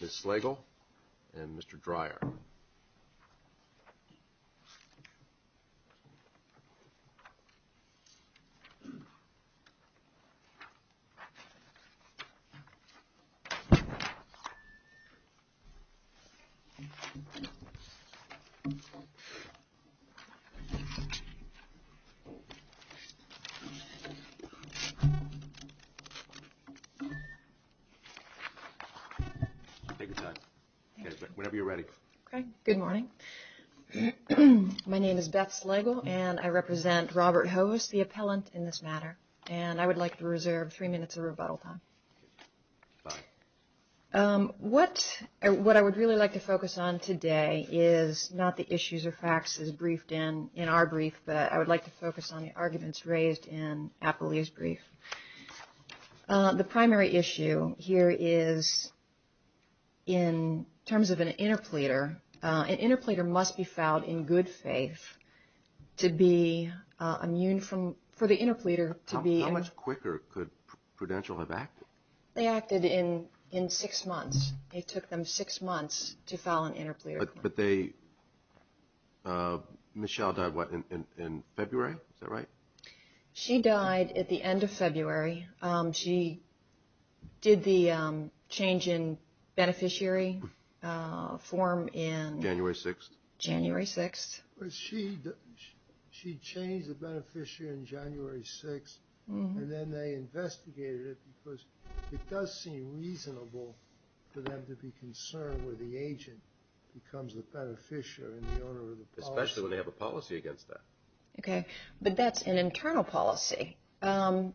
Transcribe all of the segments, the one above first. Ms. Slagle and Mr. Dreyer. Good morning. My name is Beth Slagle and I represent Robert Hoivs, the appellant in this matter, and I would like to reserve three minutes of rebuttal time. What I would really like to focus on today is not the issues or facts as briefed in our brief, but I would like to focus on the arguments raised in Appallia's brief. The primary issue here is, in terms of an interpleader, an interpleader must be filed in good faith to be immune from, for the interpleader to be. They acted in six months. It took them six months to file an interpleader. But they, Michelle died what, in February? Is that right? She died at the end of February. She did the change in beneficiary form in... January 6th. January 6th. She changed the beneficiary in January 6th and then they investigated it because it does seem reasonable for them to be concerned where the agent becomes the beneficiary and the owner of the policy. Especially when they have a policy against that. Okay, but that's an internal policy. An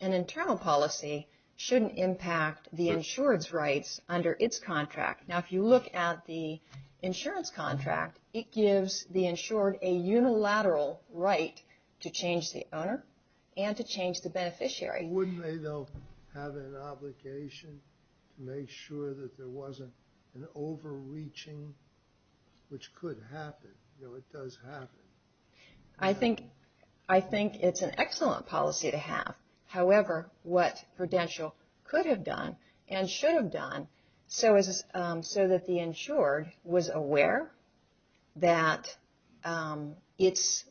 internal policy shouldn't impact the insurance rights under its contract. Now, if you look at the insurance contract, it gives the insured a unilateral right to change the owner and to change the beneficiary. Wouldn't they, though, have an obligation to make sure that there wasn't an overreaching, which could happen. You know, it does happen. I think, I think it's an excellent policy to have. However, what Prudential could have done and should have done so that the insured was aware that its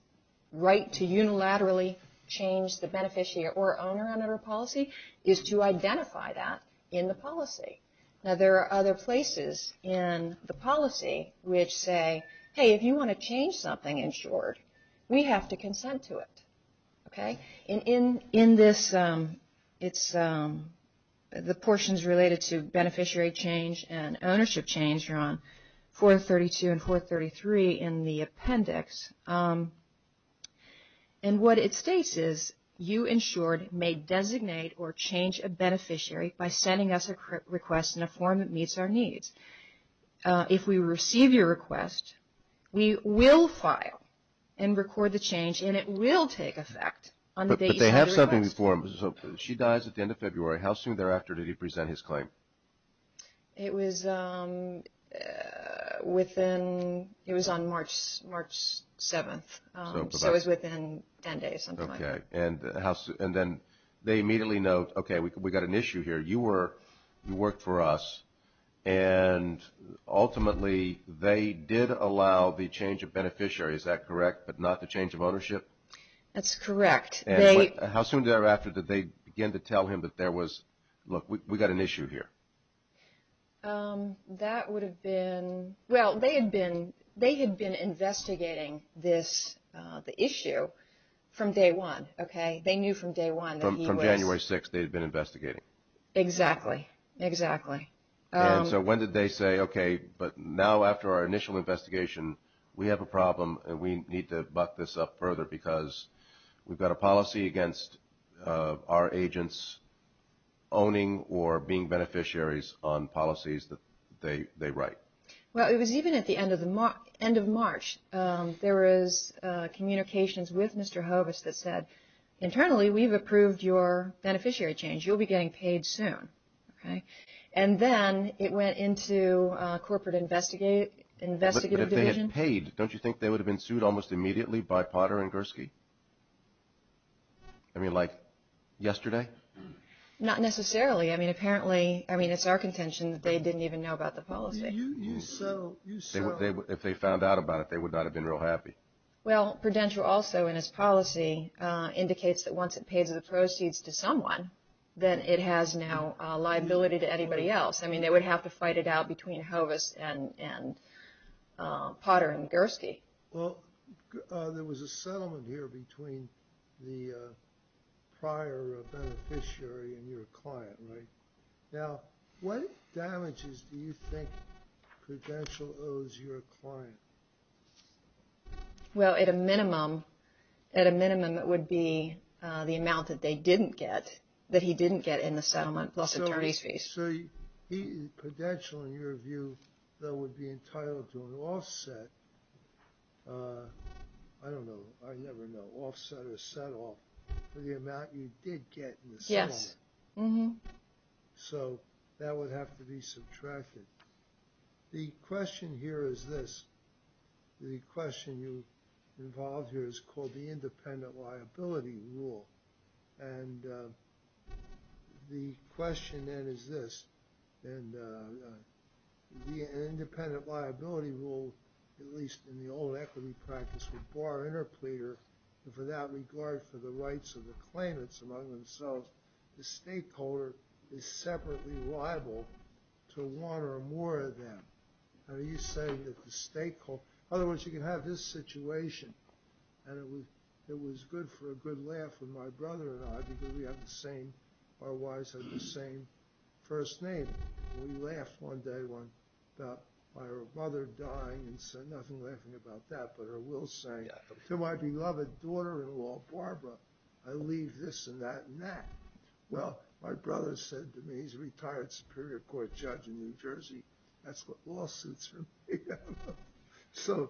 right to unilaterally change the beneficiary or owner under a policy is to identify that in the policy. Now, there are other places in the policy which say, hey, if you want to change something, insured, we have to consent to it. Okay, in this, it's the portions related to beneficiary change and ownership change are on 432 and 433 in the appendix. And what it states is, you insured may designate or change a beneficiary by sending us a request in a form that meets our needs. If we receive your request, we will file and record the change, and it will take effect. But they have something in the form. She dies at the end of February. How soon thereafter did he present his claim? It was within, it was on March 7th, so it was within 10 days. Okay, and then they immediately note, okay, we got an issue here. You were, you worked for us, and ultimately they did allow the change of beneficiary, is that correct, but not the change of ownership? That's correct. And how soon thereafter did they begin to tell him that there was, look, we got an issue here? That would have been, well, they had been investigating this, the issue, from day one, okay? They knew from day one that he was. From January 6th, they had been investigating. Exactly, exactly. And so when did they say, okay, but now after our initial investigation, we have a problem, and we need to buck this up further because we've got a policy against our agents owning or being beneficiaries on policies that they write. Well, it was even at the end of March. There was communications with Mr. Hovis that said, internally, we've approved your beneficiary change. You'll be getting paid soon, okay? And then it went into corporate investigative division. Once it was paid, don't you think they would have been sued almost immediately by Potter and Gursky? I mean, like yesterday? Not necessarily. I mean, apparently, I mean, it's our contention that they didn't even know about the policy. If they found out about it, they would not have been real happy. Well, Prudential also in its policy indicates that once it pays the proceeds to someone, then it has no liability to anybody else. I mean, they would have to fight it out between Hovis and Potter and Gursky. Well, there was a settlement here between the prior beneficiary and your client, right? Now, what damages do you think Prudential owes your client? Well, at a minimum, at a minimum, it would be the amount that they didn't get, that he didn't get in the settlement plus attorney's fees. So Prudential, in your view, though, would be entitled to an offset. I don't know. I never know. Offset or set off for the amount you did get in the settlement. Yes. So that would have to be subtracted. The question here is this. The question involved here is called the independent liability rule. And the question, then, is this. The independent liability rule, at least in the old equity practice, would bar interpleader for that regard for the rights of the claimants among themselves. The stakeholder is separately liable to one or more of them. Are you saying that the stakeholder – in other words, you can have this situation. And it was good for a good laugh with my brother and I, because we have the same – our wives have the same first name. We laughed one day about my mother dying and said nothing laughing about that, but her will saying, to my beloved daughter-in-law, Barbara, I leave this and that and that. Well, my brother said to me, he's a retired Superior Court judge in New Jersey, that's what lawsuits are made out of. So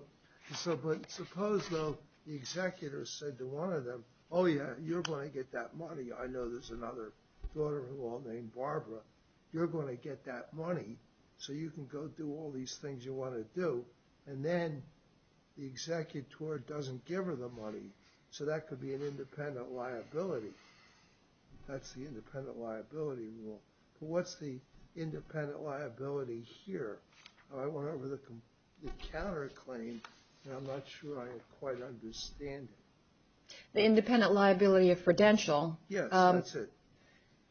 suppose, though, the executor said to one of them, oh, yeah, you're going to get that money. I know there's another daughter-in-law named Barbara. You're going to get that money so you can go do all these things you want to do. And then the executor doesn't give her the money. So that could be an independent liability. That's the independent liability rule. But what's the independent liability here? I went over the counterclaim, and I'm not sure I quite understand it. The independent liability of credential. Yes, that's it.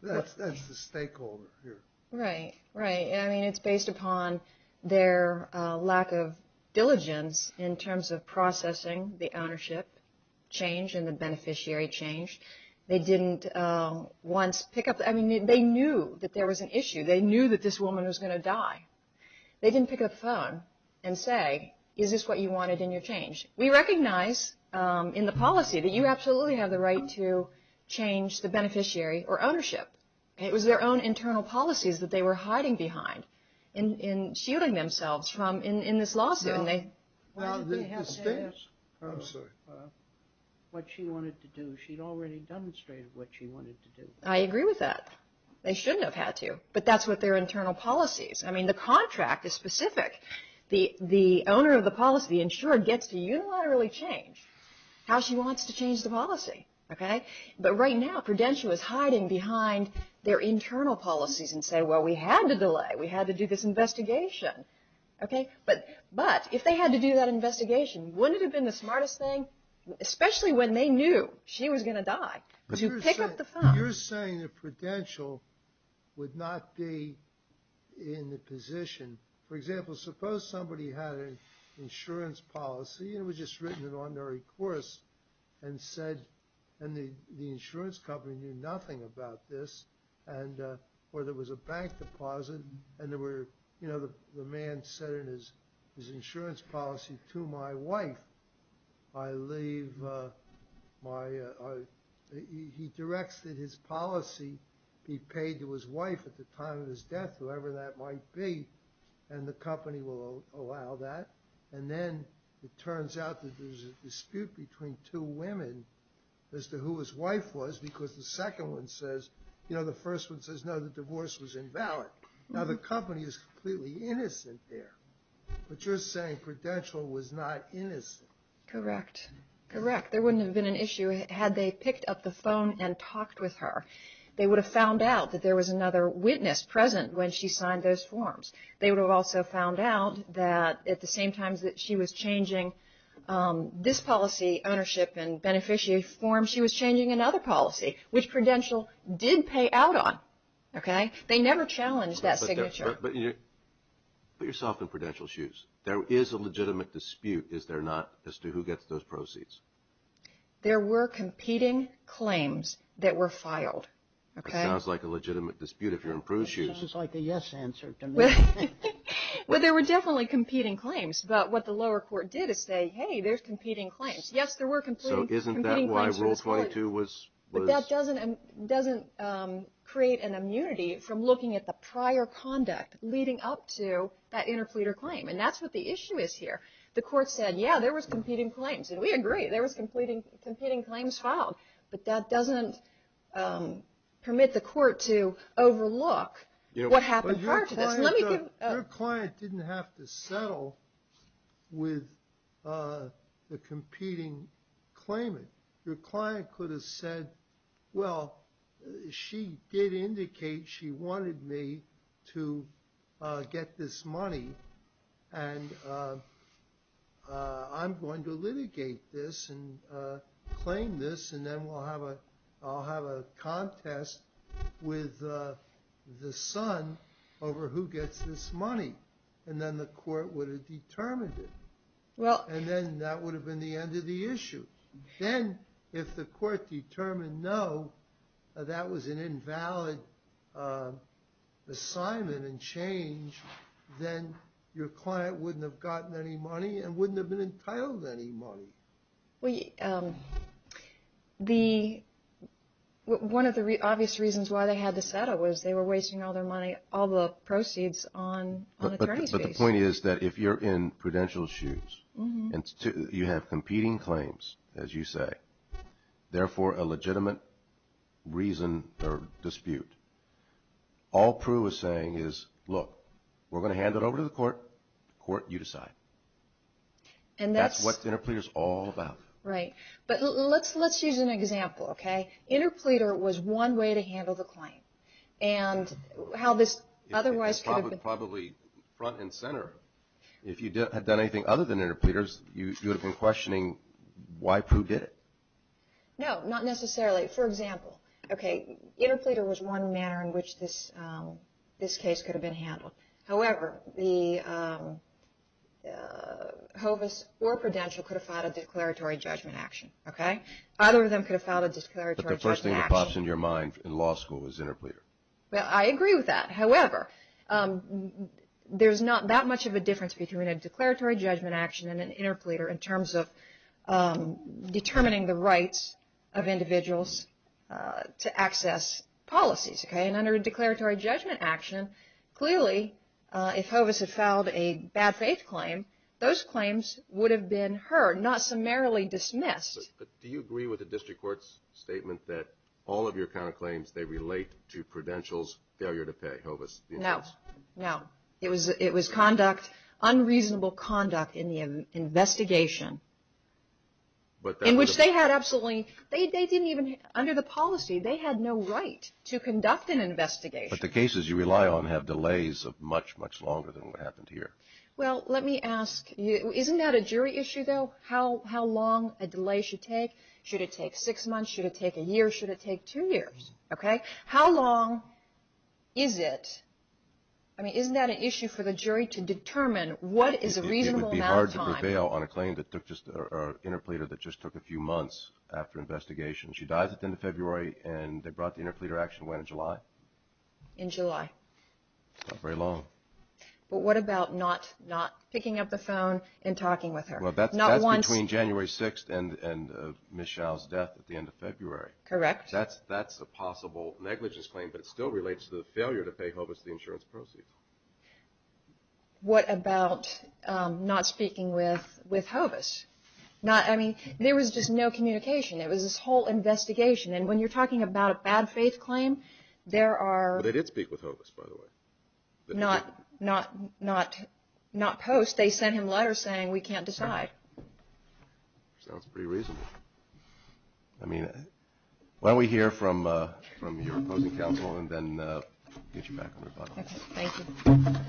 That's the stakeholder here. Right, right. I mean, it's based upon their lack of diligence in terms of processing the ownership change and the beneficiary change. They didn't once pick up – I mean, they knew that there was an issue. They knew that this woman was going to die. They didn't pick up the phone and say, is this what you wanted in your change? We recognize in the policy that you absolutely have the right to change the beneficiary or ownership. It was their own internal policies that they were hiding behind and shielding themselves from in this lawsuit. Well, I'm sorry. What she wanted to do, she'd already demonstrated what she wanted to do. I agree with that. They shouldn't have had to, but that's what their internal policies. I mean, the contract is specific. The owner of the policy, the insurer, gets to unilaterally change how she wants to change the policy. Okay? But right now, credential is hiding behind their internal policies and saying, well, we had to delay. We had to do this investigation. Okay? But if they had to do that investigation, wouldn't it have been the smartest thing, especially when they knew she was going to die, to pick up the phone? You're saying the credential would not be in the position. For example, suppose somebody had an insurance policy, and it was just written in ordinary course, and the insurance company knew nothing about this, or there was a bank deposit, and the man said in his insurance policy, to my wife, I leave my, he directs that his policy be paid to his wife at the time of his death, whoever that might be, and the company will allow that. And then it turns out that there's a dispute between two women as to who his wife was, because the second one says, you know, the first one says, no, the divorce was invalid. Now, the company is completely innocent there. But you're saying credential was not innocent. Correct. Correct. There wouldn't have been an issue had they picked up the phone and talked with her. They would have found out that there was another witness present when she signed those forms. They would have also found out that at the same time that she was changing this policy, ownership and beneficiary form, she was changing another policy, which credential did pay out on. Okay? They never challenged that signature. But put yourself in credential's shoes. There is a legitimate dispute, is there not, as to who gets those proceeds? There were competing claims that were filed. Okay? It sounds like a legitimate dispute if you're in Prue's shoes. It sounds like a yes answer to me. But there were definitely competing claims. But what the lower court did is say, hey, there's competing claims. Yes, there were competing claims. So isn't that why Rule 22 was... leading up to that interpleader claim? And that's what the issue is here. The court said, yeah, there was competing claims. And we agree. There was competing claims filed. But that doesn't permit the court to overlook what happened prior to this. Let me give... Your client didn't have to settle with the competing claimant. Your client could have said, well, she did indicate she wanted me to get this money. And I'm going to litigate this and claim this. And then I'll have a contest with the son over who gets this money. And then the court would have determined it. And then that would have been the end of the issue. Then if the court determined, no, that was an invalid assignment and change, then your client wouldn't have gotten any money and wouldn't have been entitled to any money. One of the obvious reasons why they had to settle was they were wasting all their money, The point is that if you're in prudential shoes and you have competing claims, as you say, therefore a legitimate reason or dispute, all Prue is saying is, look, we're going to hand it over to the court. Court, you decide. And that's what interpleader is all about. Right. But let's use an example, okay? Interpleader was one way to handle the claim. And how this otherwise could have been... If you had done anything other than interpleaders, you would have been questioning why Prue did it. No, not necessarily. For example, okay, interpleader was one manner in which this case could have been handled. However, the hovis or prudential could have filed a declaratory judgment action, okay? Either of them could have filed a declaratory judgment action. But the first thing that pops into your mind in law school is interpleader. Well, I agree with that. However, there's not that much of a difference between a declaratory judgment action and an interpleader in terms of determining the rights of individuals to access policies, okay? And under a declaratory judgment action, clearly if hovis had filed a bad faith claim, those claims would have been heard, not summarily dismissed. Do you agree with the district court's statement that all of your counterclaims, they relate to prudential's failure to pay hovis? No, no. It was conduct, unreasonable conduct in the investigation in which they had absolutely... They didn't even... Under the policy, they had no right to conduct an investigation. But the cases you rely on have delays of much, much longer than what happened here. Well, let me ask you... Isn't that a jury issue, though? How long a delay should take? Should it take six months? Should it take a year? Should it take two years, okay? How long is it? I mean, isn't that an issue for the jury to determine what is a reasonable amount of time... It would be hard to prevail on a claim that took just, or an interpleader that just took a few months after investigation. She dies at the end of February, and they brought the interpleader action when, in July? In July. Not very long. But what about not picking up the phone and talking with her? Well, that's between January 6th and Michelle's death at the end of February. Correct. That's a possible negligence claim, but it still relates to the failure to pay Hovis the insurance proceeds. What about not speaking with Hovis? I mean, there was just no communication. It was this whole investigation, and when you're talking about a bad faith claim, there are... But they did speak with Hovis, by the way. Not post. They sent him letters saying, we can't decide. Sounds pretty reasonable. Why don't we hear from your opposing counsel, and then get you back on the button. Okay. Thank you. Mr.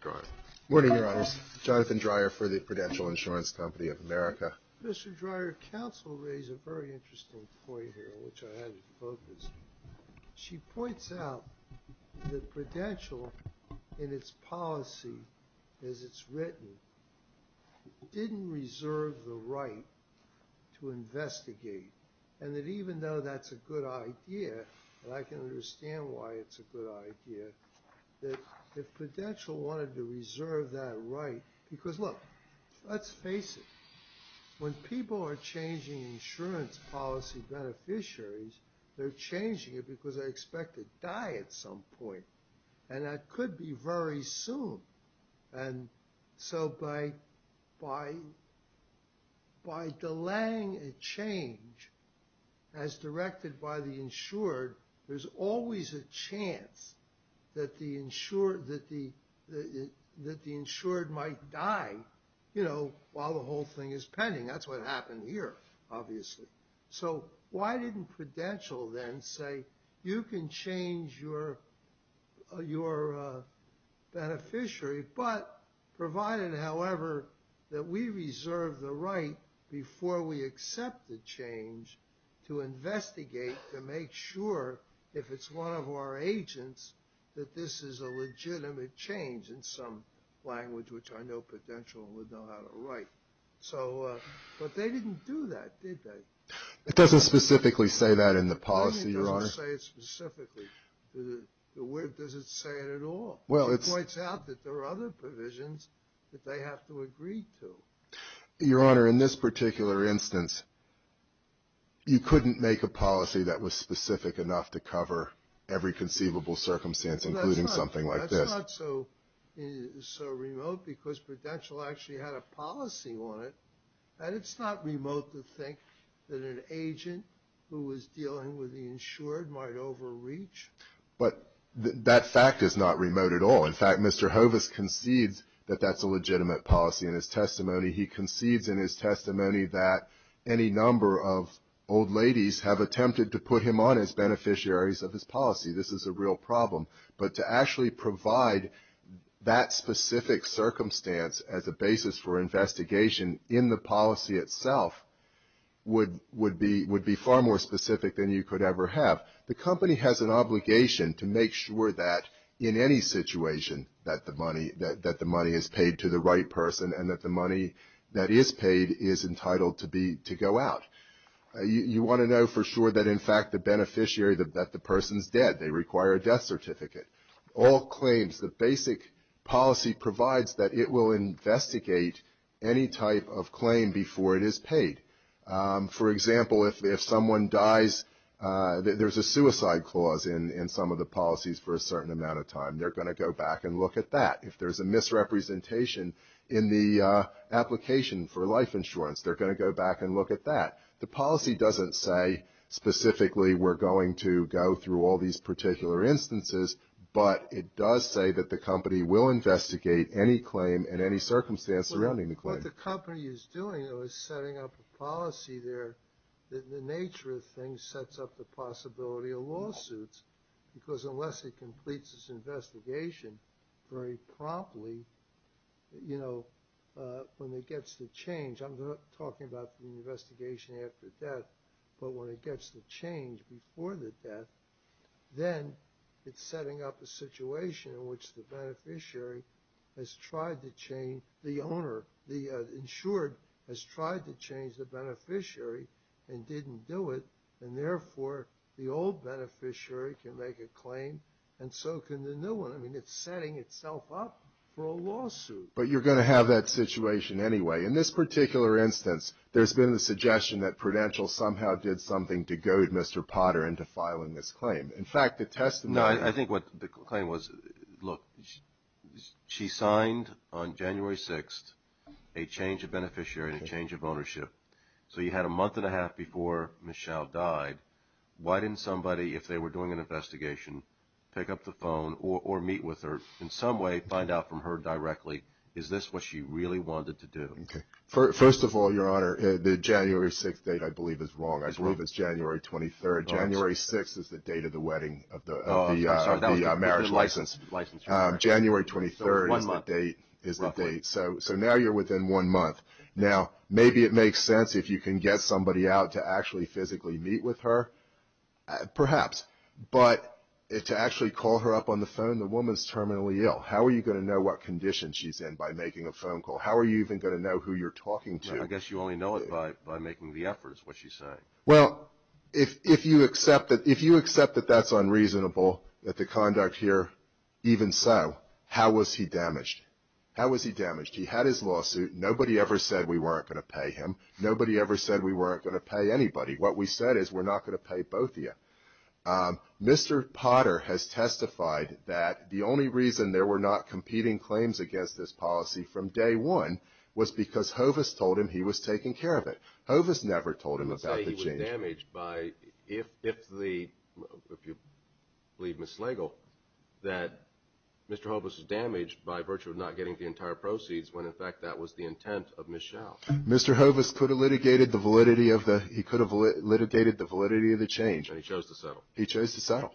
Dreyer. Good morning, Your Honors. Jonathan Dreyer for the Prudential Insurance Company of America. Mr. Dreyer, counsel raised a very interesting point here, which I had to focus. She points out that Prudential, in its policy as it's written, didn't reserve the right to investigate, and that even though that's a good idea, and I can understand why it's a good idea, that if Prudential wanted to reserve that right... Because, look, let's face it. When people are changing insurance policy beneficiaries, they're changing it because they expect to die at some point, and that could be very soon. And so by delaying a change as directed by the insured, there's always a chance that the insured might die, you know, while the whole thing is pending. That's what happened here, obviously. So why didn't Prudential then say, you can change your beneficiary, but provided, however, that we reserve the right before we accept the change to investigate to make sure, if it's one of our agents, that this is a legitimate change in some language, which I know Prudential would know how to write. But they didn't do that, did they? It doesn't specifically say that in the policy, Your Honor. It doesn't say it specifically. Does it say it at all? It points out that there are other provisions that they have to agree to. Your Honor, in this particular instance, you couldn't make a policy that was specific enough to cover every conceivable circumstance, including something like this. It's not so remote because Prudential actually had a policy on it. And it's not remote to think that an agent who was dealing with the insured might overreach. But that fact is not remote at all. In fact, Mr. Hovis concedes that that's a legitimate policy in his testimony. He concedes in his testimony that any number of old ladies have attempted to put him on as beneficiaries of his policy. This is a real problem. But to actually provide that specific circumstance as a basis for investigation in the policy itself would be far more specific than you could ever have. The company has an obligation to make sure that, in any situation, that the money is paid to the right person and that the money that is paid is entitled to go out. You want to know for sure that, in fact, the beneficiary, that the person's dead. They require a death certificate. All claims, the basic policy provides that it will investigate any type of claim before it is paid. For example, if someone dies, there's a suicide clause in some of the policies for a certain amount of time. They're going to go back and look at that. If there's a misrepresentation in the application for life insurance, they're going to go back and look at that. The policy doesn't say specifically we're going to go through all these particular instances, but it does say that the company will investigate any claim in any circumstance surrounding the claim. What the company is doing, though, is setting up a policy there that in the nature of things sets up the possibility of lawsuits because unless it completes its investigation very promptly, you know, when it gets to change. I'm not talking about the investigation after death, but when it gets to change before the death, then it's setting up a situation in which the beneficiary has tried to change, the owner, the insured has tried to change the beneficiary and didn't do it, and therefore the old beneficiary can make a claim and so can the new one. I mean, it's setting itself up for a lawsuit. But you're going to have that situation anyway. In this particular instance, there's been the suggestion that Prudential somehow did something to goad Mr. Potter into filing this claim. In fact, the testimony. No, I think what the claim was, look, she signed on January 6th a change of beneficiary and a change of ownership. So you had a month and a half before Michelle died. Why didn't somebody, if they were doing an investigation, pick up the phone or meet with her, in some way find out from her directly, is this what she really wanted to do? First of all, Your Honor, the January 6th date I believe is wrong. I believe it's January 23rd. January 6th is the date of the wedding of the marriage license. January 23rd is the date. So now you're within one month. Now, maybe it makes sense if you can get somebody out to actually physically meet with her, perhaps. But to actually call her up on the phone, the woman's terminally ill. How are you going to know what condition she's in by making a phone call? How are you even going to know who you're talking to? I guess you only know it by making the efforts, what she's saying. Well, if you accept that that's unreasonable, that the conduct here even so, how was he damaged? How was he damaged? He had his lawsuit. Nobody ever said we weren't going to pay him. Nobody ever said we weren't going to pay anybody. What we said is we're not going to pay both of you. Mr. Potter has testified that the only reason there were not competing claims against this policy from day one was because Hovis told him he was taking care of it. Hovis never told him about the change. But let's say he was damaged by, if you believe Ms. Slagle, that Mr. Hovis was damaged by virtue of not getting the entire proceeds when, in fact, that was the intent of Ms. Schell. Mr. Hovis could have litigated the validity of the change. And he chose to settle. He chose to settle.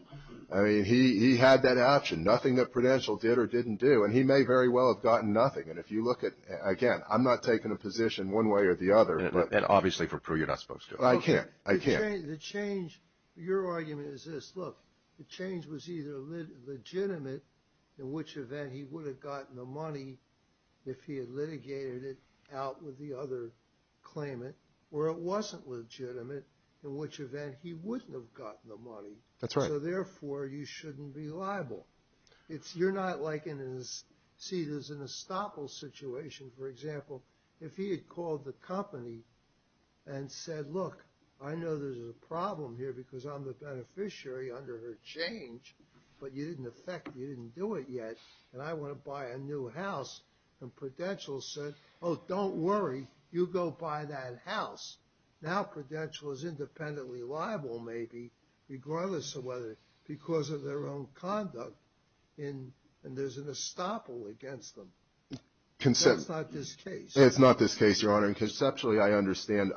I mean, he had that option. Nothing that Prudential did or didn't do. And he may very well have gotten nothing. And if you look at, again, I'm not taking a position one way or the other. And obviously for Pru, you're not supposed to. I can't. I can't. The change, your argument is this. Look, the change was either legitimate, in which event he would have gotten the money if he had litigated it out with the other claimant, or it wasn't legitimate, in which event he wouldn't have gotten the money. That's right. So, therefore, you shouldn't be liable. You're not like in a, see, there's an estoppel situation. For example, if he had called the company and said, look, I know there's a problem here because I'm the beneficiary under her change, but you didn't effect, you didn't do it yet, and I want to buy a new house. And Prudential said, oh, don't worry. You go buy that house. Now Prudential is independently liable, maybe, regardless of whether because of their own conduct, and there's an estoppel against them. That's not this case. It's not this case, Your Honor. And conceptually, I understand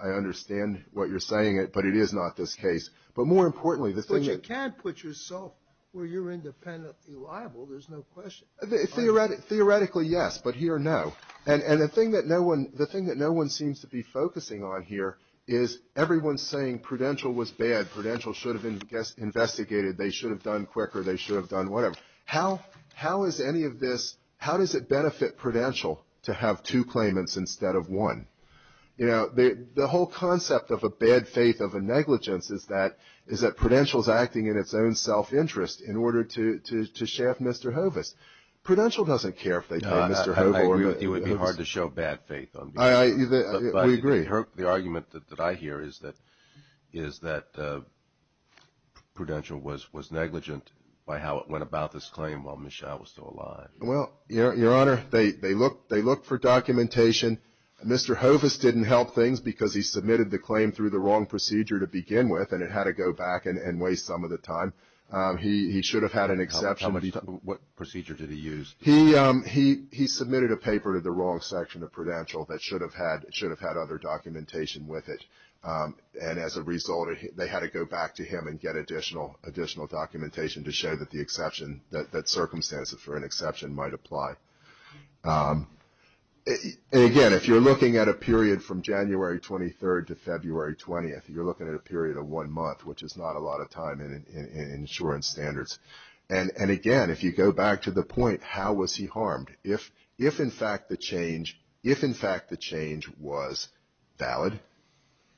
what you're saying, but it is not this case. But more importantly, the thing is. But you can put yourself where you're independently liable. There's no question. Theoretically, yes. But here, no. And the thing that no one seems to be focusing on here is everyone's saying Prudential was bad. Prudential should have investigated. They should have done quicker. They should have done whatever. How is any of this, how does it benefit Prudential to have two claimants instead of one? You know, the whole concept of a bad faith of a negligence is that Prudential's acting in its own self-interest in order to shaft Mr. Hovis. I agree with you. It would be hard to show bad faith. We agree. The argument that I hear is that Prudential was negligent by how it went about this claim while Michelle was still alive. Well, Your Honor, they looked for documentation. Mr. Hovis didn't help things because he submitted the claim through the wrong procedure to begin with, and it had to go back and waste some of the time. He should have had an exception. What procedure did he use? He submitted a paper to the wrong section of Prudential that should have had other documentation with it, and as a result, they had to go back to him and get additional documentation to show that the exception, that circumstances for an exception might apply. Again, if you're looking at a period from January 23rd to February 20th, you're looking at a period of one month, which is not a lot of time in insurance standards. And, again, if you go back to the point, how was he harmed? If, in fact, the change was valid,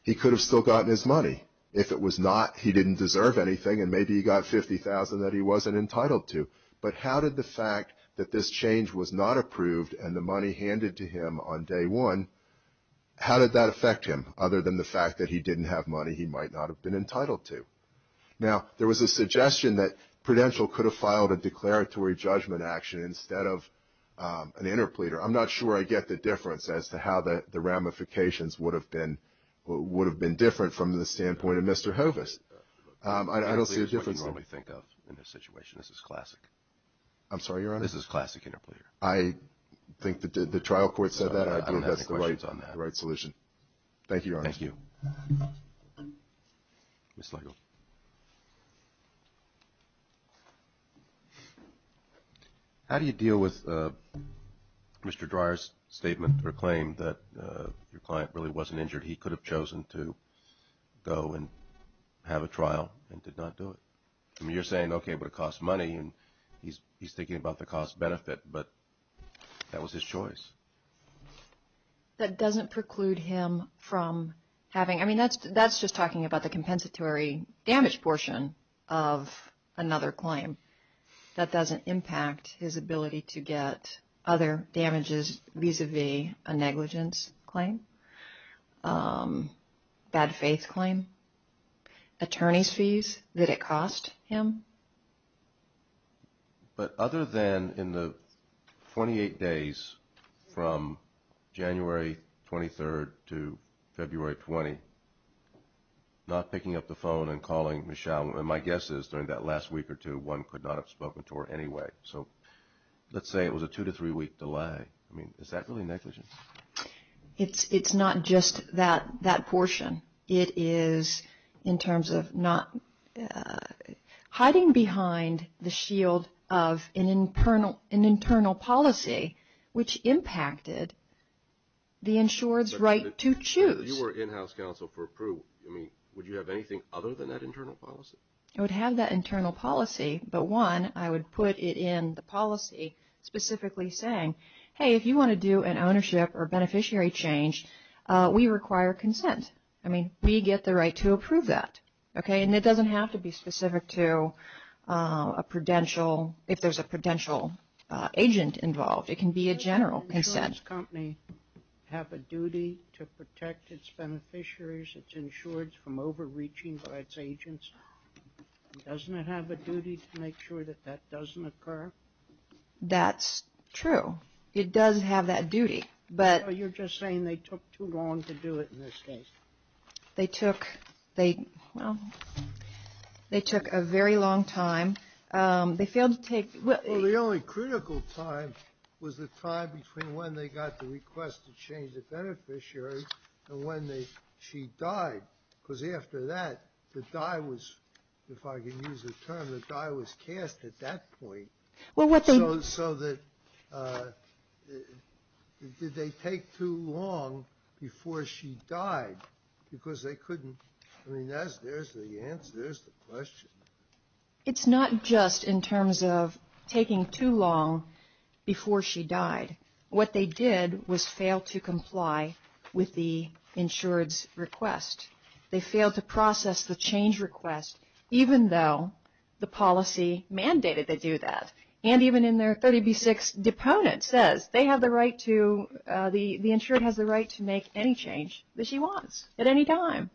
he could have still gotten his money. If it was not, he didn't deserve anything, and maybe he got $50,000 that he wasn't entitled to. But how did the fact that this change was not approved and the money handed to him on day one, how did that affect him other than the fact that he didn't have money he might not have been entitled to? Now, there was a suggestion that Prudential could have filed a declaratory judgment action instead of an interpleader. I'm not sure I get the difference as to how the ramifications would have been different from the standpoint of Mr. Hovis. I don't see a difference. This is what you normally think of in this situation. This is classic. I'm sorry, Your Honor? This is classic interpleader. I think the trial court said that. I don't think that's the right solution. Thank you, Your Honor. Thank you. Ms. Legle. How do you deal with Mr. Dreyer's statement or claim that your client really wasn't injured? He could have chosen to go and have a trial and did not do it. I mean, you're saying, okay, but it costs money, and he's thinking about the cost-benefit, but that was his choice. That doesn't preclude him from having. I mean, that's just talking about the compensatory damage portion of another claim. That doesn't impact his ability to get other damages vis-à-vis a negligence claim, bad faith claim, attorney's fees that it cost him. But other than in the 28 days from January 23rd to February 20, not picking up the phone and calling Michelle, and my guess is during that last week or two, one could not have spoken to her anyway. So let's say it was a two-to-three-week delay. I mean, is that really negligence? It's not just that portion. It is in terms of not hiding behind the shield of an internal policy, which impacted the insured's right to choose. You were in-house counsel for approved. I mean, would you have anything other than that internal policy? I would have that internal policy, but, one, I would put it in the policy specifically saying, hey, if you want to do an ownership or beneficiary change, we require consent. I mean, we get the right to approve that. Okay? And it doesn't have to be specific to a prudential, if there's a prudential agent involved. It can be a general consent. Does an insurance company have a duty to protect its beneficiaries, its insureds from overreaching by its agents? Doesn't it have a duty to make sure that that doesn't occur? That's true. It does have that duty. So you're just saying they took too long to do it in this case? They took a very long time. They failed to take — Well, the only critical time was the time between when they got the request to change the beneficiary and when she died. Because after that, the die was, if I can use the term, the die was cast at that point. So did they take too long before she died? Because they couldn't. I mean, there's the answer. There's the question. It's not just in terms of taking too long before she died. What they did was fail to comply with the insured's request. They failed to process the change request, even though the policy mandated they do that. And even in their 30B-6, deponent says they have the right to — the insured has the right to make any change that she wants at any time.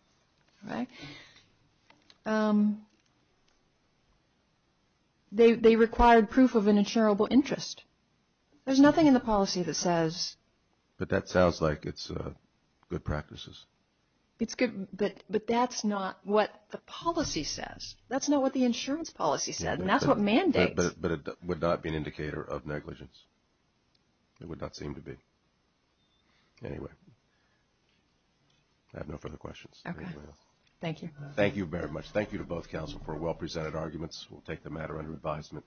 Right? They required proof of an insurable interest. There's nothing in the policy that says — But that sounds like it's good practices. It's good, but that's not what the policy says. That's not what the insurance policy says, and that's what mandates. But it would not be an indicator of negligence. It would not seem to be. Anyway. I have no further questions. Okay. Thank you. Thank you very much. Thank you to both counsel for well-presented arguments. We'll take the matter under advisement.